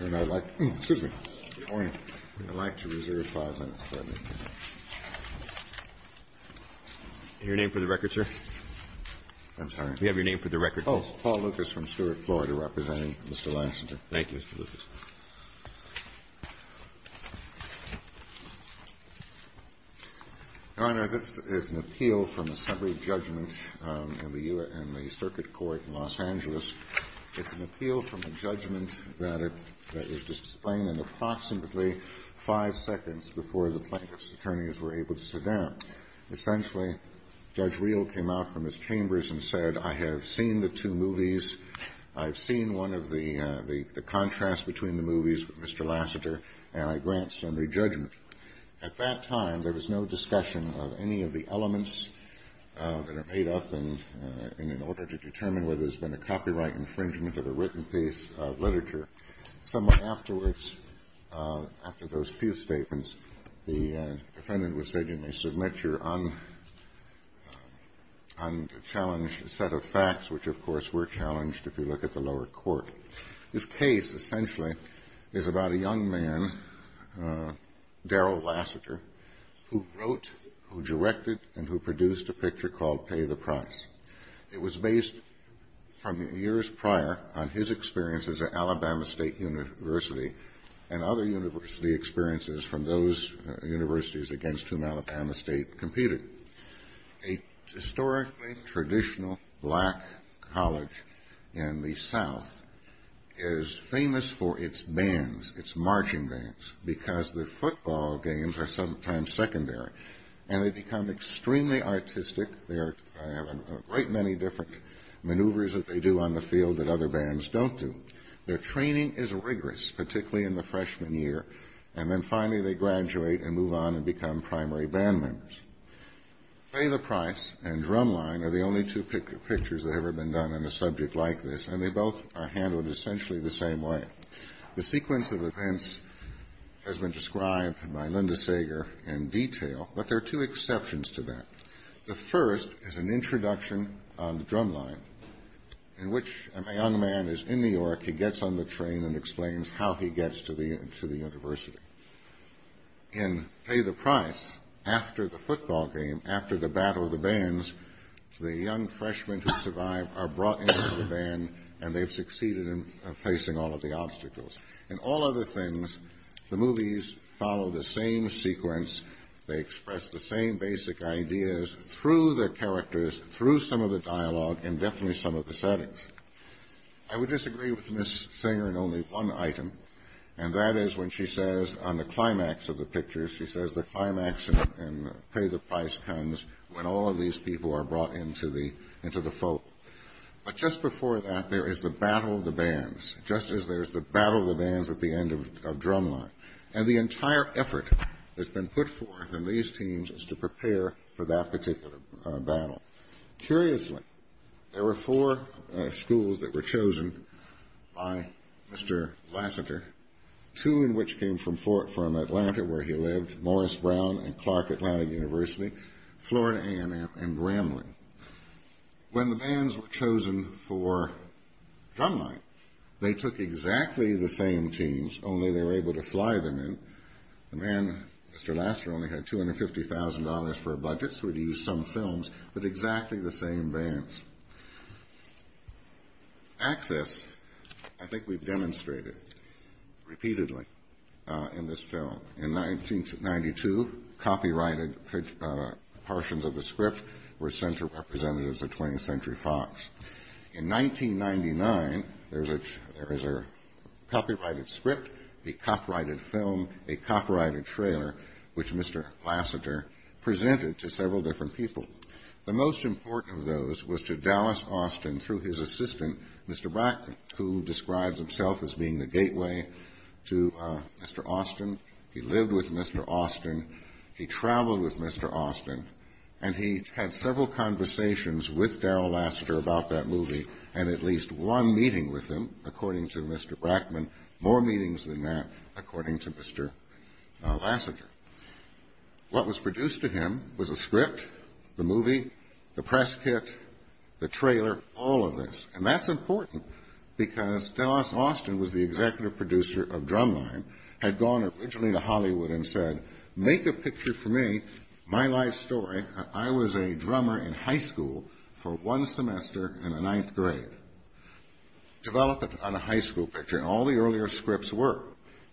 And I'd like to reserve five minutes for that. Your name for the record, sir? I'm sorry? We have your name for the record. Oh, Paul Lucas from Stewart, Florida, representing Mr. Lassiter. Thank you, Mr. Lucas. Your Honor, this is an appeal from the summary judgment in the U.S. Circuit Court in Los Angeles. It's an appeal from a judgment that was displayed in approximately five seconds before the plaintiff's attorneys were able to sit down. Essentially, Judge Reel came out from his chambers and said, I have seen the two movies, I've seen one of the contrasts between the movies with Mr. Lassiter, and I grant summary judgment. At that time, there was no discussion of any of the elements that are made up in order to determine whether there's been a copyright infringement of a written piece of literature. Somewhat afterwards, after those few statements, the defendant was said, you may submit your unchallenged set of facts, which, of course, were challenged if you look at the lower court. This case, essentially, is about a young man, Darrell Lassiter, who wrote, who directed, and who produced a picture called Pay the Price. It was based from years prior on his experiences at Alabama State University and other university experiences from those universities against whom Alabama State competed. A historically traditional black college in the south is famous for its bands, its marching bands, because the football games are sometimes secondary. And they become extremely artistic. They have a great many different maneuvers that they do on the field that other bands don't do. Their training is rigorous, particularly in the freshman year, and then finally they graduate and move on and become primary band members. Pay the Price and Drumline are the only two pictures that have ever been done on a subject like this, and they both are handled essentially the same way. The sequence of events has been described by Linda Sager in detail, but there are two exceptions to that. The first is an introduction on the drumline in which a young man is in New York. He gets on the train and explains how he gets to the university. In Pay the Price, after the football game, after the battle of the bands, the young freshmen who survive are brought into the band, and they've succeeded in facing all of the obstacles. And all other things, the movies follow the same sequence. They express the same basic ideas through their characters, through some of the dialogue, and definitely some of the settings. I would disagree with Ms. Sager in only one item, and that is when she says on the climax of the picture, she says the climax in Pay the Price comes when all of these people are brought into the folk. But just before that, there is the battle of the bands, just as there's the battle of the bands at the end of Drumline. And the entire effort that's been put forth in these teams is to prepare for that particular battle. Curiously, there were four schools that were chosen by Mr. Lasseter, two in which came from Atlanta where he lived, Morris Brown and Clark Atlanta University, Florida A&M, and Bramley. When the bands were chosen for Drumline, they took exactly the same teams, only they were able to fly them in. The man, Mr. Lasseter, only had $250,000 for a budget, so he used some films with exactly the same bands. Access, I think we've demonstrated repeatedly in this film. In 1992, copyrighted portions of the script were sent to representatives of 20th Century Fox. In 1999, there is a copyrighted script, a copyrighted film, a copyrighted trailer, which Mr. Lasseter presented to several different people. The most important of those was to Dallas Austin through his assistant, Mr. Brackman, who describes himself as being the gateway to Mr. Austin. He lived with Mr. Austin. He traveled with Mr. Austin. And he had several conversations with Daryl Lasseter about that movie and at least one meeting with him, according to Mr. Brackman, more meetings than that, according to Mr. Lasseter. What was produced to him was a script, the movie, the press kit, the trailer, all of this. And that's important because Dallas Austin was the executive producer of Drumline, had gone originally to Hollywood and said, make a picture for me, my life story. I was a drummer in high school for one semester in the ninth grade. Develop it on a high school picture. All the earlier scripts work.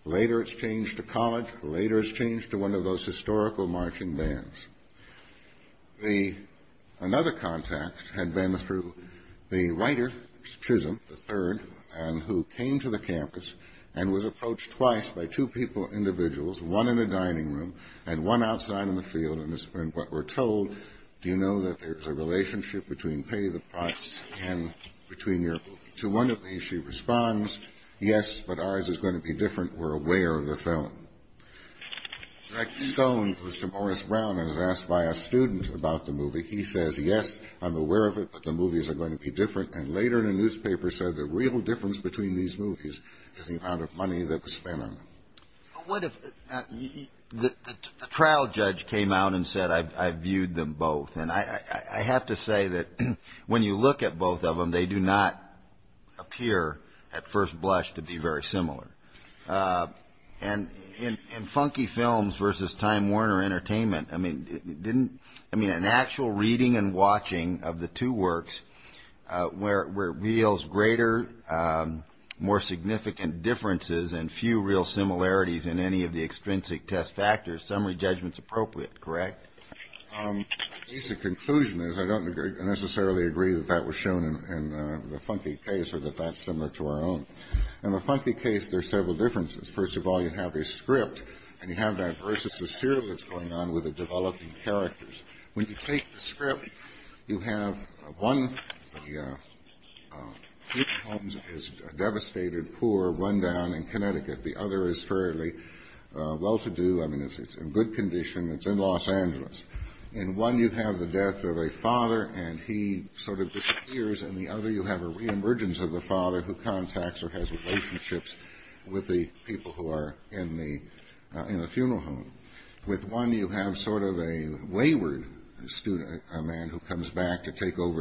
Later, it's changed to college. Later, it's changed to one of those historical marching bands. Another contact had been through the writer, Chisholm III, who came to the campus and was approached twice by two people, individuals, one in a dining room and one outside in the field. And what we're told, do you know that there's a relationship between pay the price and between your movie? To one of these, she responds, yes, but ours is going to be different. We're aware of the film. Jack Stone, who's to Morris Brown and is asked by a student about the movie, he says, yes, I'm aware of it, but the movies are going to be different. And later in a newspaper said the real difference between these movies is the amount of money that was spent on them. What if a trial judge came out and said I viewed them both? And I have to say that when you look at both of them, they do not appear at first blush to be very similar. And in funky films versus Time Warner Entertainment, I mean, an actual reading and watching of the two works where it reveals greater, more significant differences and few real similarities in any of the extrinsic test factors, summary judgment's appropriate, correct? The basic conclusion is I don't necessarily agree that that was shown in the funky case or that that's similar to our own. In the funky case, there's several differences. First of all, you have a script and you have that versus the serial that's going on with the developing characters. When you take the script, you have one of the films is devastated, poor, run down in Connecticut. The other is fairly well to do. I mean, it's in good condition. It's in Los Angeles. In one, you have the death of a father, and he sort of disappears. And the other, you have a reemergence of the father who contacts or has relationships with the people who are in the funeral home. With one, you have sort of a wayward student, a man who comes back to take over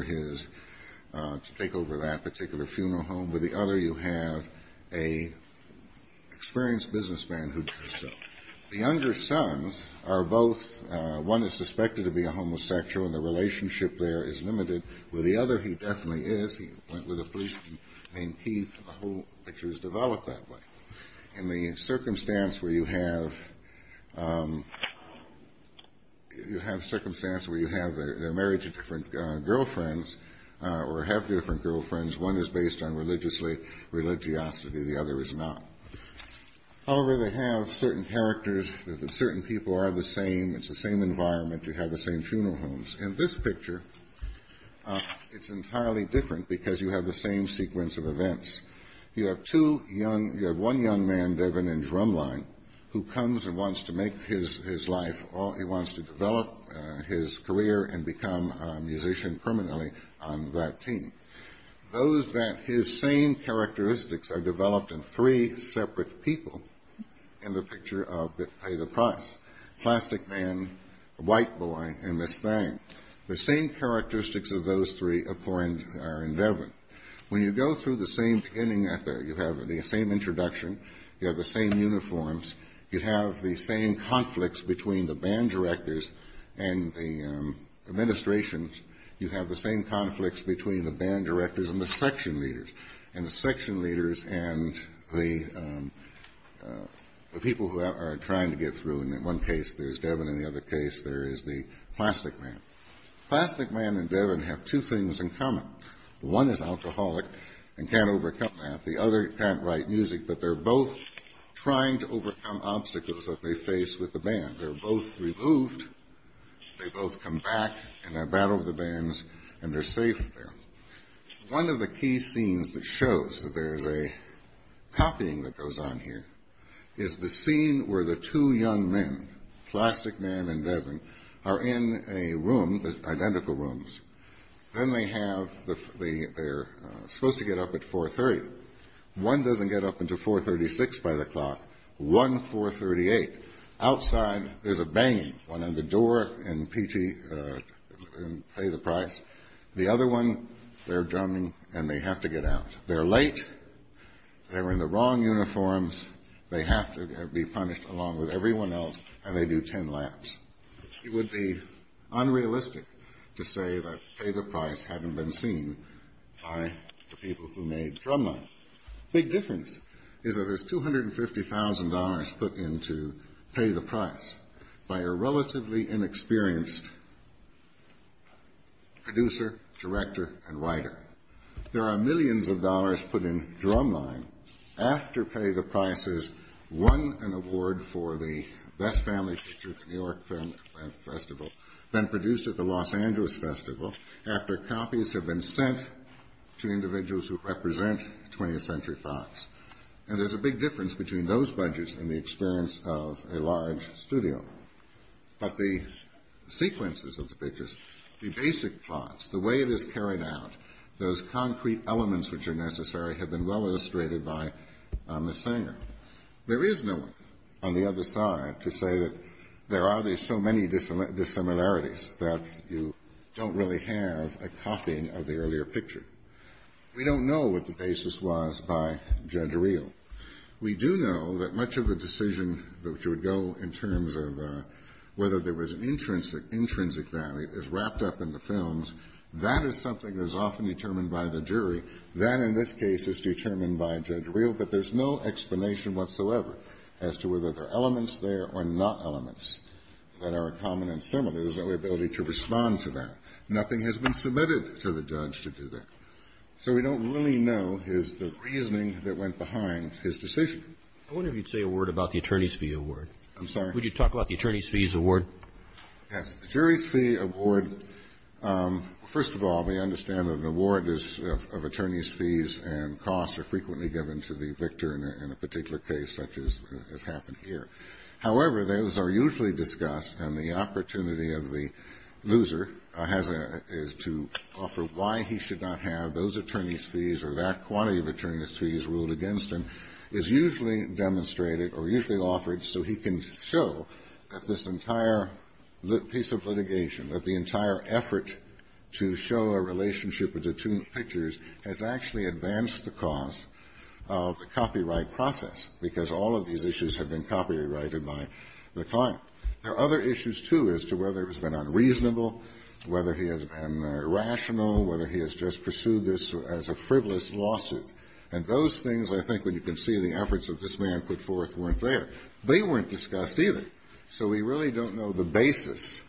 that particular funeral home. With the other, you have an experienced businessman who does so. The younger sons are both one is suspected to be a homosexual, and the relationship there is limited. With the other, he definitely is. He went with a policeman named Keith, and the whole picture is developed that way. In the circumstance where you have the marriage of different girlfriends or have different girlfriends, one is based on religiosity. The other is not. However, they have certain characters. Certain people are the same. It's the same environment. You have the same funeral homes. In this picture, it's entirely different because you have the same sequence of events. You have one young man, Devin, in drumline, who comes and wants to make his life. He wants to develop his career and become a musician permanently on that team. Those that his same characteristics are developed in three separate people in the picture of the price, plastic man, white boy, and this thing. The same characteristics of those three are in Devin. When you go through the same beginning, you have the same introduction. You have the same uniforms. You have the same conflicts between the band directors and the administrations. You have the same conflicts between the band directors and the section leaders, and the section leaders and the people who are trying to get through. In one case, there's Devin. In the other case, there is the plastic man. Plastic man and Devin have two things in common. One is alcoholic and can't overcome that. The other can't write music, but they're both trying to overcome obstacles that they face with the band. They're both removed. They both come back and battle the bands, and they're safe there. One of the key scenes that shows that there's a copying that goes on here is the scene where the two young men, plastic man and Devin, are in a room, identical rooms. Then they have the – they're supposed to get up at 430. One doesn't get up until 436 by the clock. One, 438. Outside, there's a banging. One at the door and pay the price. The other one, they're drumming, and they have to get out. They're late. They're in the wrong uniforms. They have to be punished along with everyone else, and they do ten laps. It would be unrealistic to say that pay the price hadn't been seen by the people who made Drumline. The big difference is that there's $250,000 put in to pay the price by a relatively inexperienced producer, director, and writer. There are millions of dollars put in Drumline after Pay the Prices won an award for the Best Family Picture at the New York Film Festival, then produced at the Los Angeles Festival after copies have been sent to individuals who represent 20th Century Fox. And there's a big difference between those budgets and the experience of a large studio. But the sequences of the pictures, the basic plots, the way it is carried out, those concrete elements which are necessary have been well illustrated by Ms. Sanger. There is no one on the other side to say that there are so many dissimilarities that you don't really have a copying of the earlier picture. We don't know what the basis was by Judge Reel. We do know that much of the decision that would go in terms of whether there was an intrinsic value is wrapped up in the films. That is something that is often determined by the jury. That, in this case, is determined by Judge Reel. But there's no explanation whatsoever as to whether there are elements there or not elements that are common and similar. There's no ability to respond to that. Nothing has been submitted to the judge to do that. So we don't really know is the reasoning that went behind his decision. I wonder if you'd say a word about the attorney's fee award. I'm sorry? Would you talk about the attorney's fees award? Yes. The jury's fee award, first of all, we understand that an award is of attorney's fees and costs are frequently given to the victor in a particular case such as has happened here. However, those are usually discussed and the opportunity of the loser is to offer why he should not have those attorney's fees or that quantity of attorney's fees ruled against him is usually demonstrated or usually offered so he can show that this entire piece of litigation, that the entire effort to show a relationship with the two pictures, has actually advanced the cause of the copyright process because all of these issues have been copyrighted by the client. There are other issues, too, as to whether it's been unreasonable, whether he has been irrational, whether he has just pursued this as a frivolous lawsuit. And those things, I think, when you can see the efforts that this man put forth weren't there. They weren't discussed either. So we really don't know the basis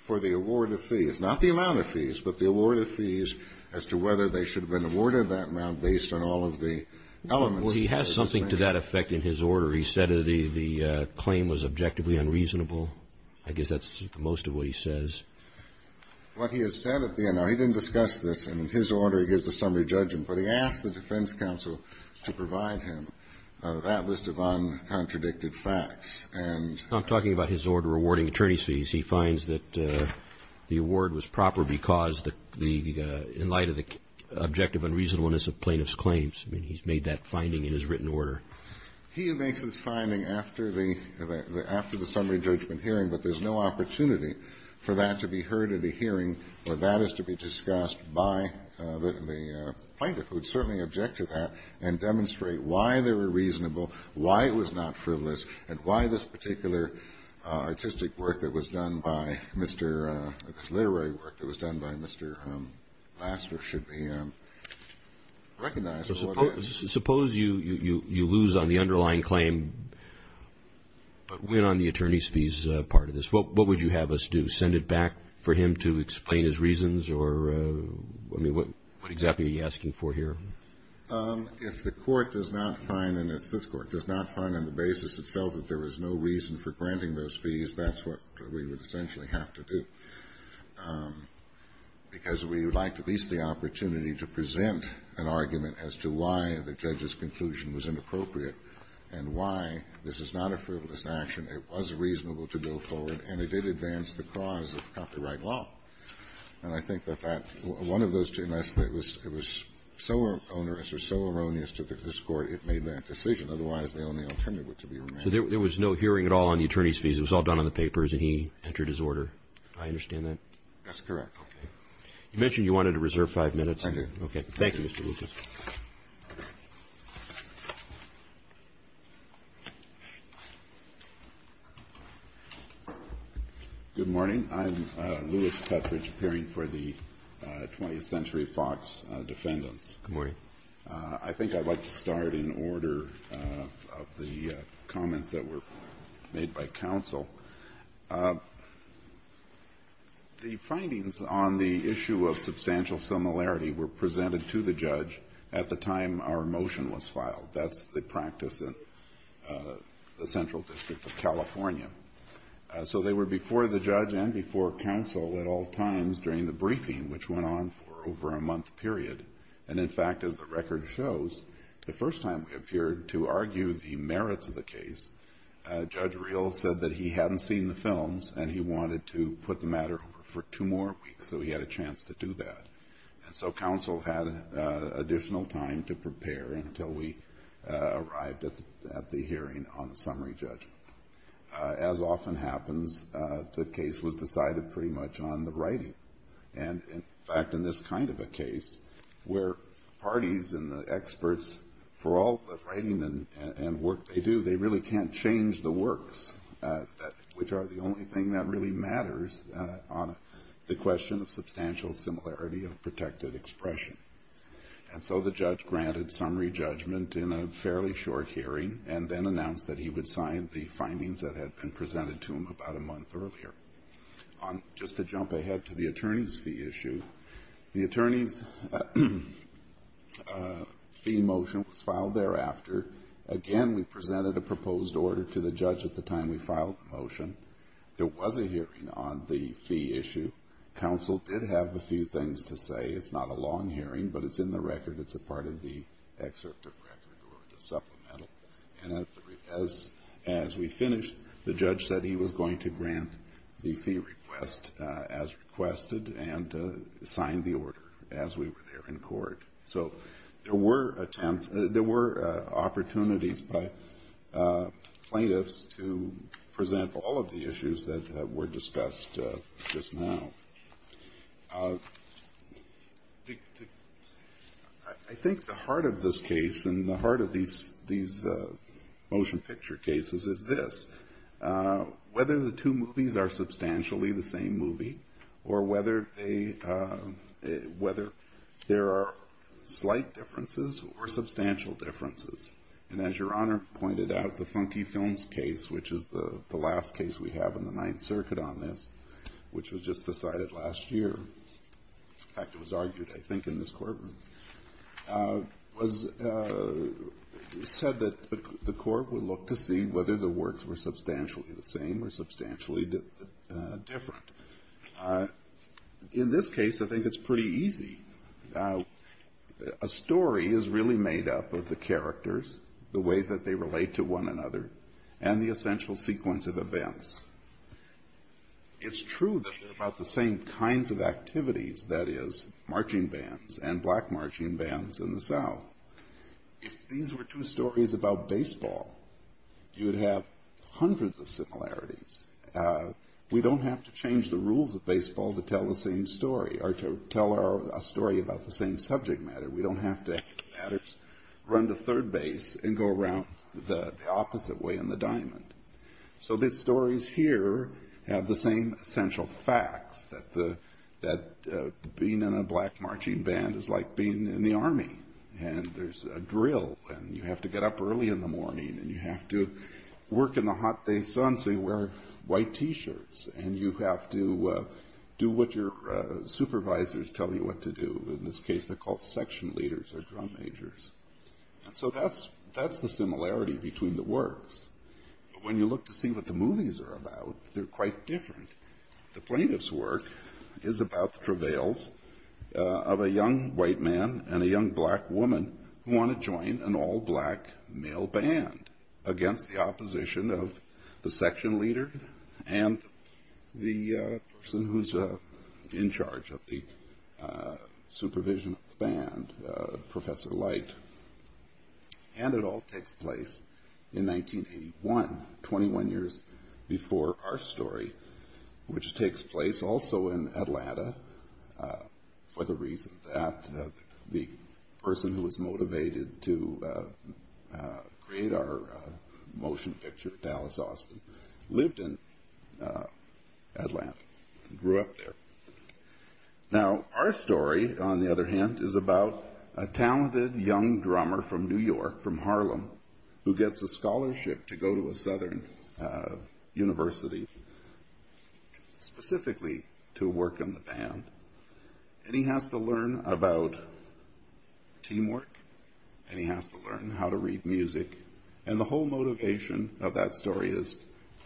for the award of fees, not the amount of fees, but the award of fees as to whether they should have been awarded that amount based on all of the elements. Well, he has something to that effect in his order. He said the claim was objectively unreasonable. I guess that's most of what he says. What he has said at the end. Now, he didn't discuss this. In his order, he gives the summary judgment, but he asked the defense counsel to provide him that list of uncontradicted facts. I'm talking about his order awarding attorney's fees. He finds that the award was proper because in light of the objective unreasonableness of plaintiff's claims. I mean, he's made that finding in his written order. He makes this finding after the summary judgment hearing, but there's no opportunity for that to be heard at a hearing where that is to be discussed by the plaintiff, who would certainly object to that, and demonstrate why they were reasonable, why it was not frivolous, and why this particular artistic work that was done by Mr. Lassner should be recognized. So suppose you lose on the underlying claim but win on the attorney's fees part of this. What would you have us do, send it back for him to explain his reasons? I mean, what exactly are you asking for here? If the court does not find, and it's this Court, does not find on the basis itself that there was no reason for granting those fees, that's what we would essentially have to do, because we would like at least the opportunity to present an argument as to why the judge's conclusion was inappropriate and why this is not a frivolous action, it was reasonable to go forward, and it did advance the cause of copyright And I think that that one of those two, unless it was so onerous or so erroneous to this Court, it made that decision. Otherwise, the only alternative would be to remain. So there was no hearing at all on the attorney's fees. It was all done on the papers, and he entered his order. Do I understand that? That's correct. Okay. You mentioned you wanted to reserve five minutes. Thank you. Thank you, Mr. Lucas. Good morning. I'm Louis Petridge, appearing for the 20th Century Fox Defendants. Good morning. I think I'd like to start in order of the comments that were made by counsel. The findings on the issue of substantial similarity were presented to the judge at the time our motion was filed. That's the practice in the Central District of California. So they were before the judge and before counsel at all times during the briefing, which went on for over a month period. And, in fact, as the record shows, the first time we appeared to argue the merits of the case, Judge Reel said that he hadn't seen the films and he wanted to put the matter over for two more weeks, so he had a chance to do that. And so counsel had additional time to prepare until we arrived at the hearing on the summary judgment. As often happens, the case was decided pretty much on the writing. And, in fact, in this kind of a case where parties and the experts, for all the writing and work they do, they really can't change the works, which are the only thing that really matters on the question of substantial similarity of protected expression. And so the judge granted summary judgment in a fairly short hearing and then announced that he would sign the findings that had been presented to him about a month earlier. Just to jump ahead to the attorney's fee issue, the attorney's fee motion was filed thereafter. Again, we presented a proposed order to the judge at the time we filed the motion. There was a hearing on the fee issue. Counsel did have a few things to say. It's not a long hearing, but it's in the record. It's a part of the excerpt of the record or the supplemental. And as we finished, the judge said he was going to grant the fee request as requested and sign the order as we were there in court. So there were attempts, there were opportunities by plaintiffs to present all of the issues that were discussed just now. I think the heart of this case and the heart of these motion picture cases is this, whether the two movies are substantially the same movie or whether there are slight differences or substantial differences. And as Your Honor pointed out, the Funky Films case, which is the last case we have in the Ninth Circuit on this, which was just decided last year, in fact, it was argued, I think, in this courtroom, was said that the court would look to see whether the works were substantially the same or substantially different. In this case, I think it's pretty easy. A story is really made up of the characters, the way that they relate to one another, and the essential sequence of events. It's true that they're about the same kinds of activities, that is, marching bands and black marching bands in the South. If these were two stories about baseball, you would have hundreds of similarities. We don't have to change the rules of baseball to tell the same story or to tell a story about the same subject matter. We don't have to run to third base and go around the opposite way in the diamond. So these stories here have the same essential facts, that being in a black marching band is like being in the Army, and there's a drill, and you have to get up early in the morning, and you have to work in the hot day sun so you wear white T-shirts, and you have to do what your supervisors tell you what to do. In this case, they're called section leaders or drum majors. And so that's the similarity between the works. But when you look to see what the movies are about, they're quite different. The plaintiff's work is about the travails of a young white man and a young black woman who want to join an all-black male band against the opposition of the section leader and the person who's in charge of the supervision of the band, Professor Light. And it all takes place in 1981, 21 years before our story, which takes place also in Atlanta for the reason that the person who was motivated to create our motion picture, Dallas Austin, lived in Atlanta and grew up there. Now our story, on the other hand, is about a talented young drummer from New York, from Harlem, who gets a scholarship to go to a southern university specifically to work in the band. And he has to learn about teamwork, and he has to learn how to read music. And the whole motivation of that story is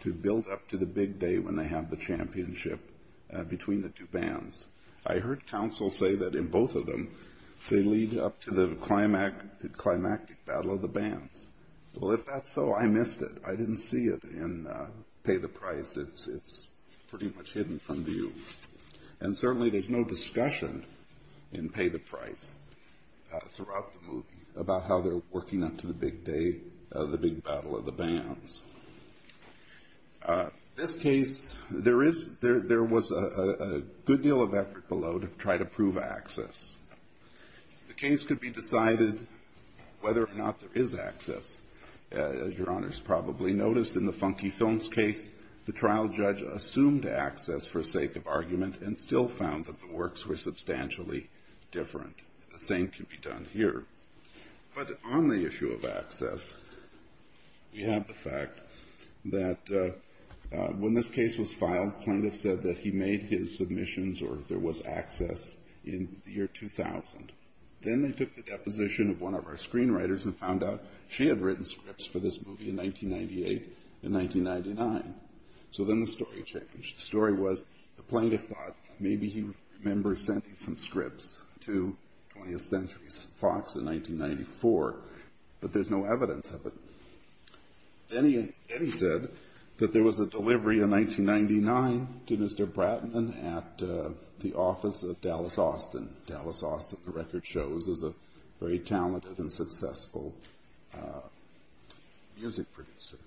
to build up to the big day when they have the show. They lead up to the climactic battle of the bands. Well, if that's so, I missed it. I didn't see it in Pay the Price. It's pretty much hidden from view. And certainly there's no discussion in Pay the Price throughout the movie about how they're working up to the big day, the big battle of the bands. This case, there was a good deal of effort below to try to prove access. The case could be decided whether or not there is access. As your honors probably noticed in the Funky Films case, the trial judge assumed access for sake of argument and still found that the works were substantially different. The same can be done here. But on the issue of access, we have the fact that when this case was filed, plaintiff said that he made his submissions or there was access in the year 2000. Then they took the deposition of one of our screenwriters and found out she had written scripts for this movie in 1998 and 1999. So then the story changed. The story was the plaintiff thought maybe he remembers sending some scripts to 20th Century Fox in 1994, but there's no evidence of it. Then he said that there was a delivery in 1999 to Mr. Bratman at the office of Dallas Austin. Dallas Austin, the record shows, is a very talented and successful music producer.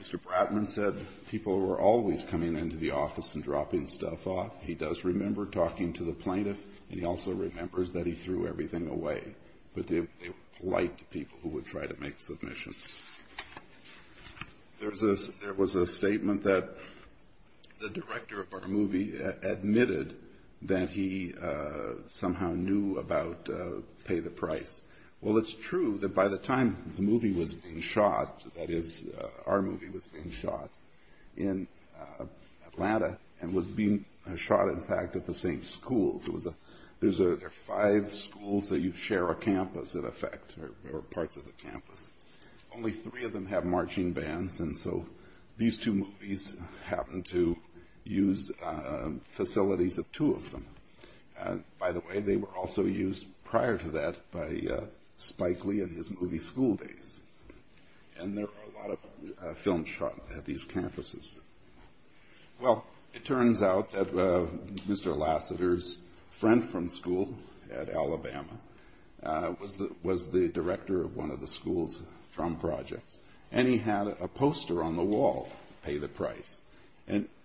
Mr. Bratman said people were always coming into the office and dropping stuff off. He does remember talking to the plaintiff and he also remembers that he threw everything away. But they were polite to people who would try to make submissions. There was a statement that the director of our movie admitted that he somehow knew about Pay the Price. Well, it's true that by the time the movie was being shot, that is our movie was being shot in Atlanta and was being shot in fact at the same school. There are five schools that you share a campus in effect or parts of the campus. Only three of them have marching bands and so these two movies happened to use facilities of two of them. By the way, they were also used prior to that by Spike Lee and his movie School Days. And there are a lot of films shot at these campuses. Well, it turns out that Mr. Lassiter's friend from school at Alabama was the director of one of the schools from Projects and he had a poster on the wall, Pay the Price.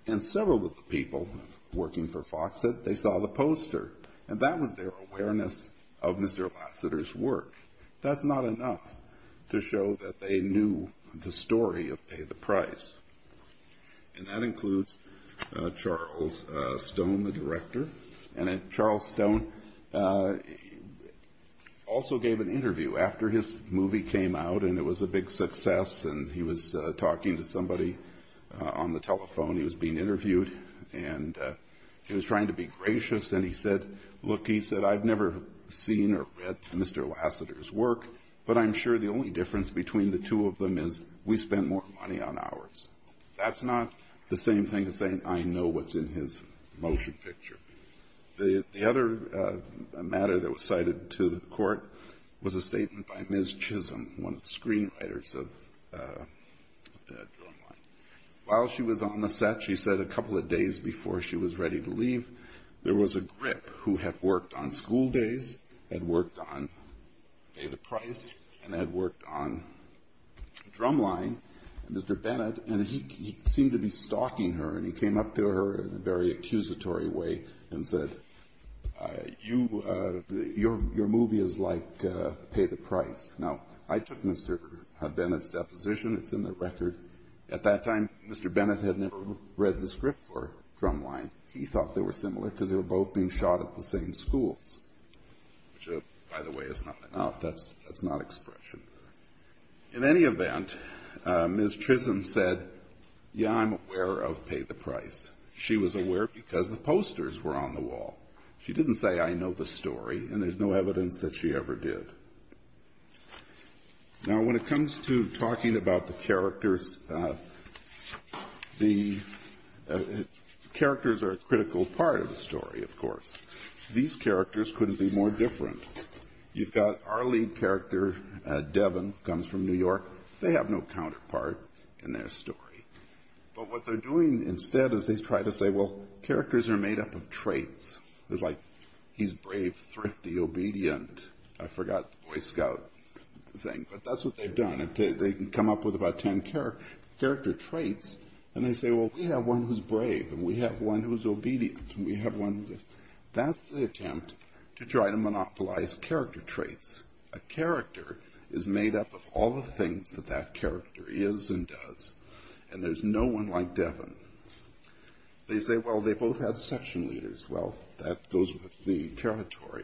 And several of the people working for Fox said they saw the poster and that was their awareness of Mr. Lassiter's work. That's not enough to show that they knew the story of Pay the Price. And that includes Charles Stone, the director. And Charles Stone also gave an interview after his movie came out and it was a big success and he was talking to somebody on the telephone. He was being interviewed and he was trying to be gracious and he said, I've never seen or read Mr. Lassiter's work, but I'm sure the only difference between the two of them is we spend more money on ours. That's not the same thing as saying I know what's in his motion picture. The other matter that was cited to the court was a statement by Ms. Chisholm, one of the screenwriters of Drumline. While she was on the set, she said a couple of days before she was ready to leave, there was a grip who had worked on School Days, had worked on Pay the Price, and had worked on Drumline, Mr. Bennett, and he seemed to be stalking her and he came up to her in a very accusatory way and said, your movie is like Pay the Price. Now, I took Mr. Bennett's deposition, it's in the record. At that time, Mr. Bennett had never read the script for Drumline. He thought they were similar because they were both being shot at the same schools. Which, by the way, is not an expression. In any event, Ms. Chisholm said, yeah, I'm aware of Pay the Price. She was aware because the posters were on the wall. She didn't say I know the story, and there's no evidence that she ever did. Now, when it comes to talking about the characters, the characters are a critical part of the story, of course. These characters couldn't be more different. You've got our lead character, Devin, comes from New York. They have no counterpart in their story. But what they're doing instead is they try to say, well, characters are made up of traits. It's like, he's brave, thrifty, obedient. I forgot the Boy Scout thing, but that's what they've done. They come up with about ten character traits, and they say, well, we have one who's brave, and we have one who's obedient, and we have one who's... That's the attempt to try to monopolize character traits. A character is made up of all the things that that character is and does, and there's no one like Devin. They say, well, they both have section leaders. Well, that goes with the territory.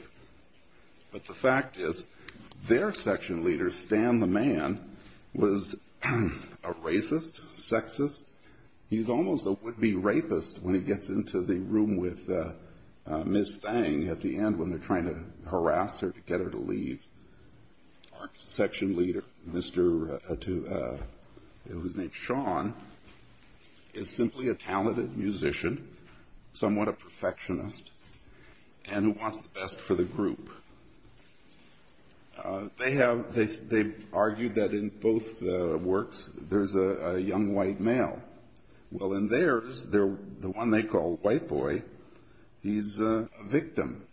But the fact is, their section leader, Stan the Man, was a racist, sexist. He's almost a would-be rapist when he gets into the room with Miss Thang at the end when they're trying to harass her to get her to leave. Our section leader, who's named Sean, is simply a talented musician, somewhat a perfectionist, and who wants the best for the group. They've argued that in both works there's a young white male. Well, in theirs, the one they call White Boy, he's a victim.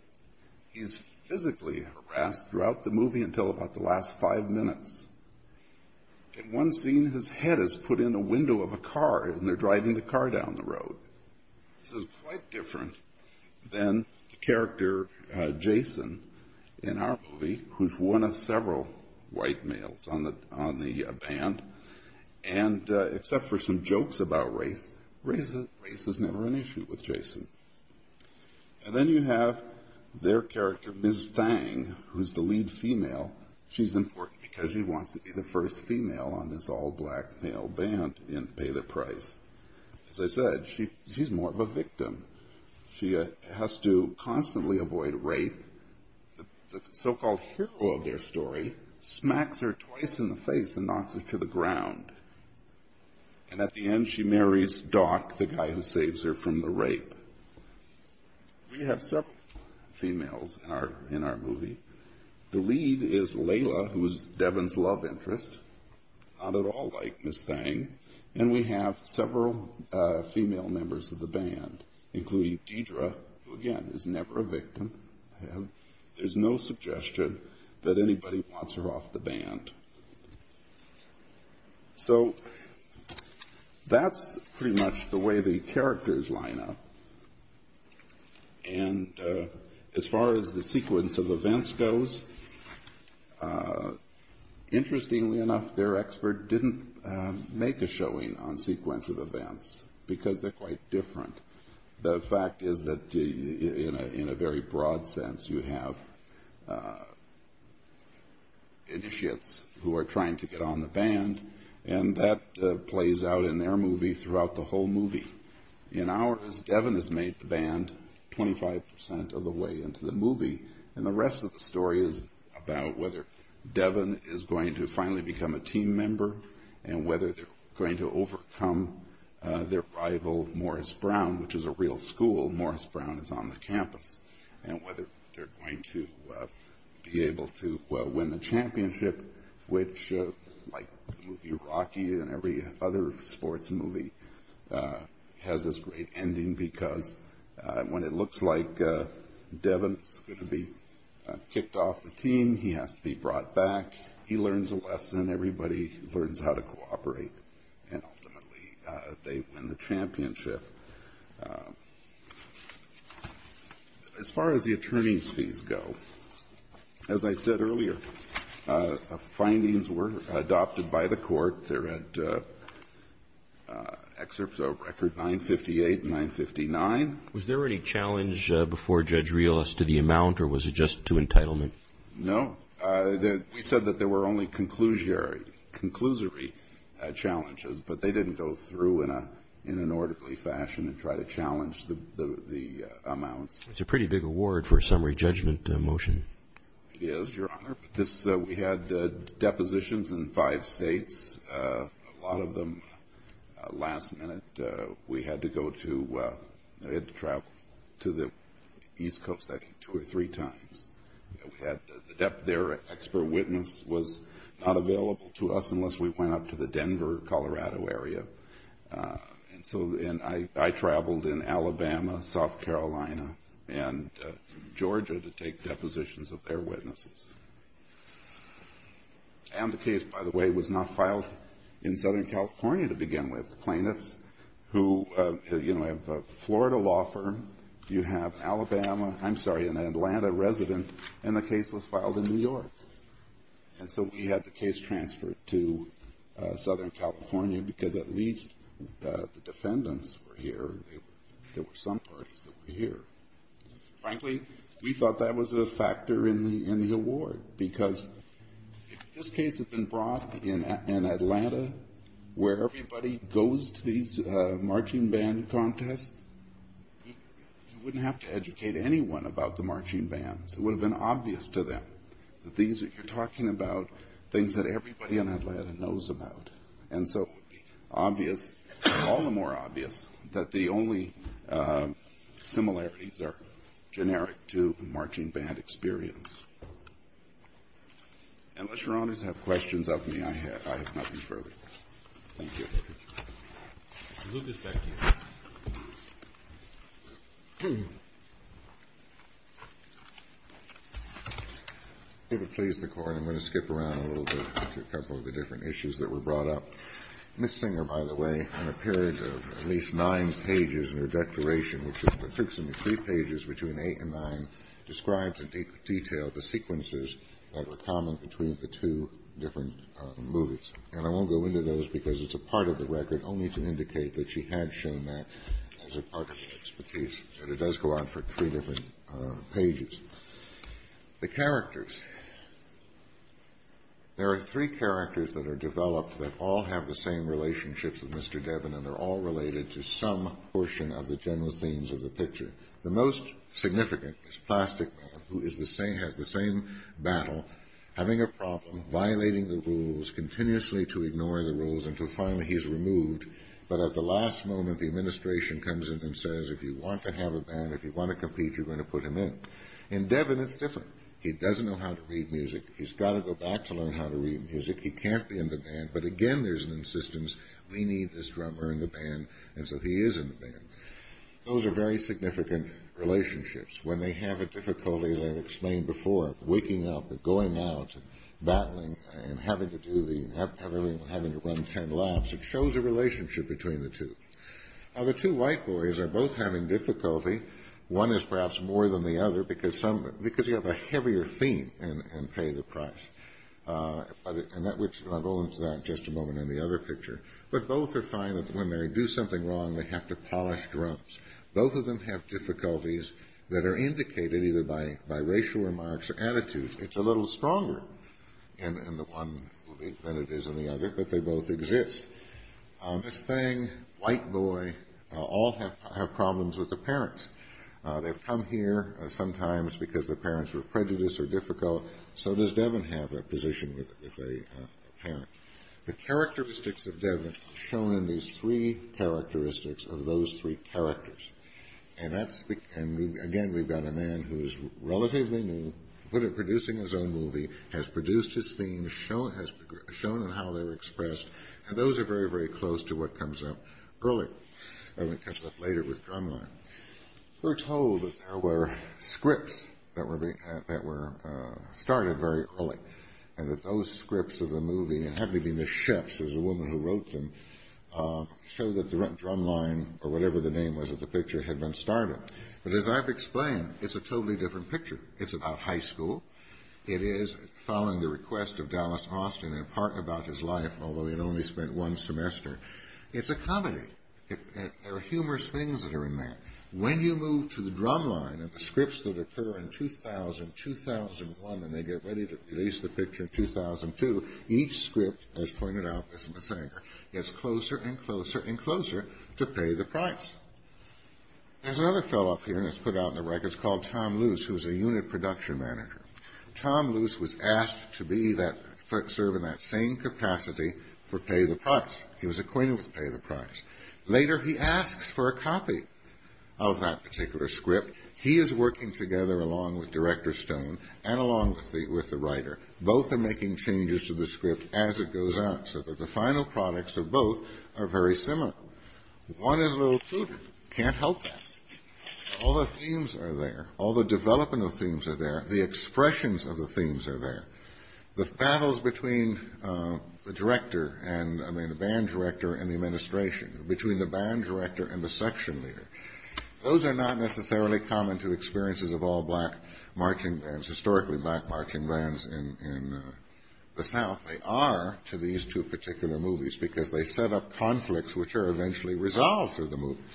He's physically harassed throughout the movie until about the last five minutes. In one scene, his head is put in a window of a car, and they're driving the car down the road. This is quite different than the character Jason in our movie, who's one of several white males on the band. And except for some jokes about race, race is never an issue with Jason. And then you have their character, Miss Thang, who's the lead female. She's important because she wants to be the first female on this all-black male band in Pay the Price. As I said, she's more of a victim. She has to constantly avoid rape. The so-called hero of their story smacks her twice in the face and knocks her to the ground. And at the end, she marries Doc, the guy who saves her from the rape. We have several females in our movie. The lead is Layla, who is Devin's love interest, not at all like Miss Thang. And we have several female members of the band, including Deidre, who again is never a victim. There's no suggestion that anybody wants her off the band. So that's pretty much the way the characters line up. And as far as the sequence of events goes, interestingly enough, their expert didn't make a showing on sequence of events, because they're quite different. The fact is that in a very broad sense, you have initiates who are trying to get on the band, and that has made the band 25 percent of the way into the movie. And the rest of the story is about whether Devin is going to finally become a team member, and whether they're going to overcome their rival, Morris Brown, which is a real school. Morris Brown is on the campus. And whether they're going to be able to win the championship, which, like the movie Rocky and every other sports movie, has this great ending, because when it looks like Devin is going to be kicked off the team, he has to be brought back, he learns a lesson, everybody learns how to cooperate, and ultimately they win the championship. As far as the attorney's fees go, as I said earlier, findings were adopted by the court. There are excerpts of record 958 and 959. Was there any challenge before Judge Rios to the amount, or was it just to entitlement? No. We said that there were only conclusory challenges, but they didn't go through in an orderly fashion and try to challenge the amounts. It's a pretty big award for a summary judgment motion. It is, Your Honor. We had depositions in five states. A lot of them, last minute, we had to go to, we had to travel to the East Coast, I think, two or three times. Their expert witness was not available to us unless we went up to the Denver, Colorado area. And I traveled in Alabama, South Carolina, and Georgia to take depositions of their witnesses. And the case, by the way, was not filed in Southern California to begin with. Plaintiffs who have a Florida law firm, you have Alabama, I'm sorry, an Atlanta resident, and the case was filed in New York. And so we had the case transferred to Southern California, because at least the defendants were here. There were some parties that were here. Frankly, we thought that was a factor in the award, because if this case had been brought in Atlanta, where everybody goes to these marching band contests, you wouldn't have to educate anyone about the marching bands. It would have been obvious to them that these are, you're talking about things that everybody in Atlanta knows about. And so it would be obvious, all the more obvious, that the only similarities are generic to marching band experience. Unless Your Honors have questions of me, I have nothing further. Thank you. Mr. Lucas, back to you. If it please the Court, I'm going to skip around a little bit to a couple of the different issues that were brought up. Ms. Singer, by the way, on a period of at least nine pages in her declaration, which is approximately three pages between 8 and 9, describes in detail the sequences that were common between the two different movies. And I won't go into those, because it's a part of the record, only to indicate that she had shown that as a part of her expertise. But it does go on for three different pages. The characters. There are three characters that are developed that all have the same relationships with Mr. Devin, and they're all related to some portion of the general themes of the picture. The most significant is Plastic Man, who has the same battle, having a problem, violating the rules, continuously to ignore the rules until finally he is removed. But at the last moment, the administration comes in and says, if you want to have a band, if you want to compete, you're going to put him in. In Devin, it's different. He doesn't know how to read music. He's got to go back to learn how to read music. He can't be in the band. But again, there's an insistence, we need this drummer in the band, and so he is in the band. Those are very significant relationships. When they have a difficulty, as I explained before, waking up and going out and battling and having to run ten laps, it shows a relationship between the two. Now, the two white boys are both having difficulty. One is perhaps more than the other because you have a heavier theme in Pay the Price. And I'll go into that in just a moment in the other picture. But both are finding that when they do something wrong, they have to polish drums. Both of them have difficulties that are indicated either by racial remarks or attitudes. It's a little stronger in the one than it is in the other, but they both exist. This thing, white boy, all have problems with the parents. They've come here sometimes because the parents were prejudiced or difficult. So does Devin have a position with a parent. The characteristics of Devin are shown in these three characteristics of those three characters. And, again, we've got a man who is relatively new, producing his own movie, has produced his theme, shown in how they're expressed, and those are very, very close to what comes up early. Devin comes up later with Drumline. We're told that there were scripts that were started very early, and that those scripts of the movie, and it happened to be Miss Sheps, who was the woman who wrote them, show that Drumline, or whatever the name was of the picture, had been started. But as I've explained, it's a totally different picture. It's about high school. It is following the request of Dallas Austin in part about his life, although he had only spent one semester. It's a comedy. There are humorous things that are in that. When you move to the Drumline, and the scripts that occur in 2000, 2001, and they get ready to release the picture in 2002, each script, as pointed out by Miss Singer, gets closer and closer and closer to pay the price. There's another fellow up here, and it's put out in the records, called Tom Luce, who's a unit production manager. Tom Luce was asked to serve in that same capacity for pay the price. He was acquainted with pay the price. Later, he asks for a copy of that particular script. He is working together along with Director Stone and along with the writer. Both are making changes to the script as it goes out, so that the final products of both are very similar. One is a little cuter. Can't help that. All the themes are there. All the development of themes are there. The expressions of the themes are there. The battles between the director and, I mean, the band director and the administration, between the band director and the section leader, those are not necessarily common to experiences of all black marching bands, historically black marching bands in the South. They are to these two particular movies, because they set up conflicts which are eventually resolved through the movies.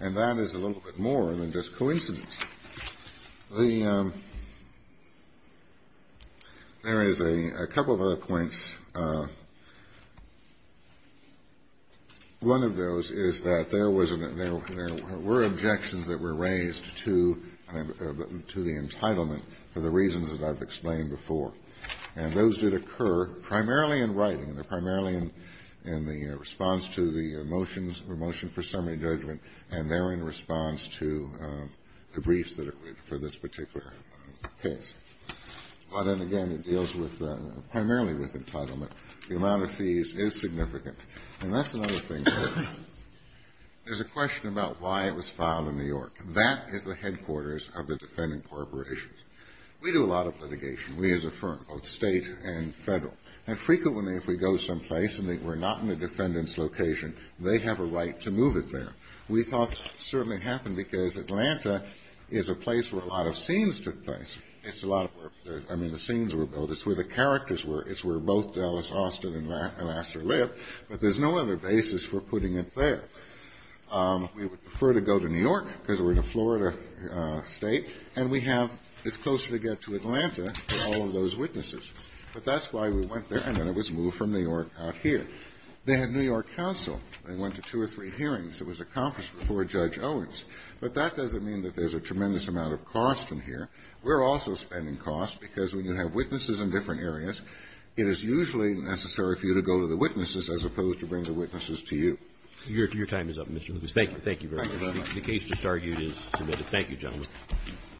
And that is a little bit more than just coincidence. There is a couple of other points. One of those is that there were objections that were raised to the entitlement for the reasons that I've explained before. And those did occur primarily in writing. They're primarily in the response to the motion for summary judgment, and they're in response to the briefs for this particular case. But, then again, it deals primarily with entitlement. The amount of fees is significant. And that's another thing. There's a question about why it was filed in New York. That is the headquarters of the defendant corporations. We do a lot of litigation. We as a firm, both state and federal, and frequently if we go someplace and we're not in the defendant's location, they have a right to move it there. We thought it certainly happened because Atlanta is a place where a lot of scenes took place. It's a lot of work. I mean, the scenes were built. It's where the characters were. It's where both Dallas Austin and Lassiter lived. But there's no other basis for putting it there. We would prefer to go to New York because we're in a Florida state, and we have as close as we get to Atlanta for all of those witnesses. But that's why we went there, and then it was moved from New York out here. They had New York counsel. They went to two or three hearings. It was accomplished before Judge Owens. But that doesn't mean that there's a tremendous amount of cost in here. We're also spending costs because when you have witnesses in different areas, it is usually necessary for you to go to the witnesses as opposed to bring the witnesses to you. Roberts. Your time is up, Mr. Lucas. Thank you. Thank you very much. The case just argued is submitted. Thank you, gentlemen.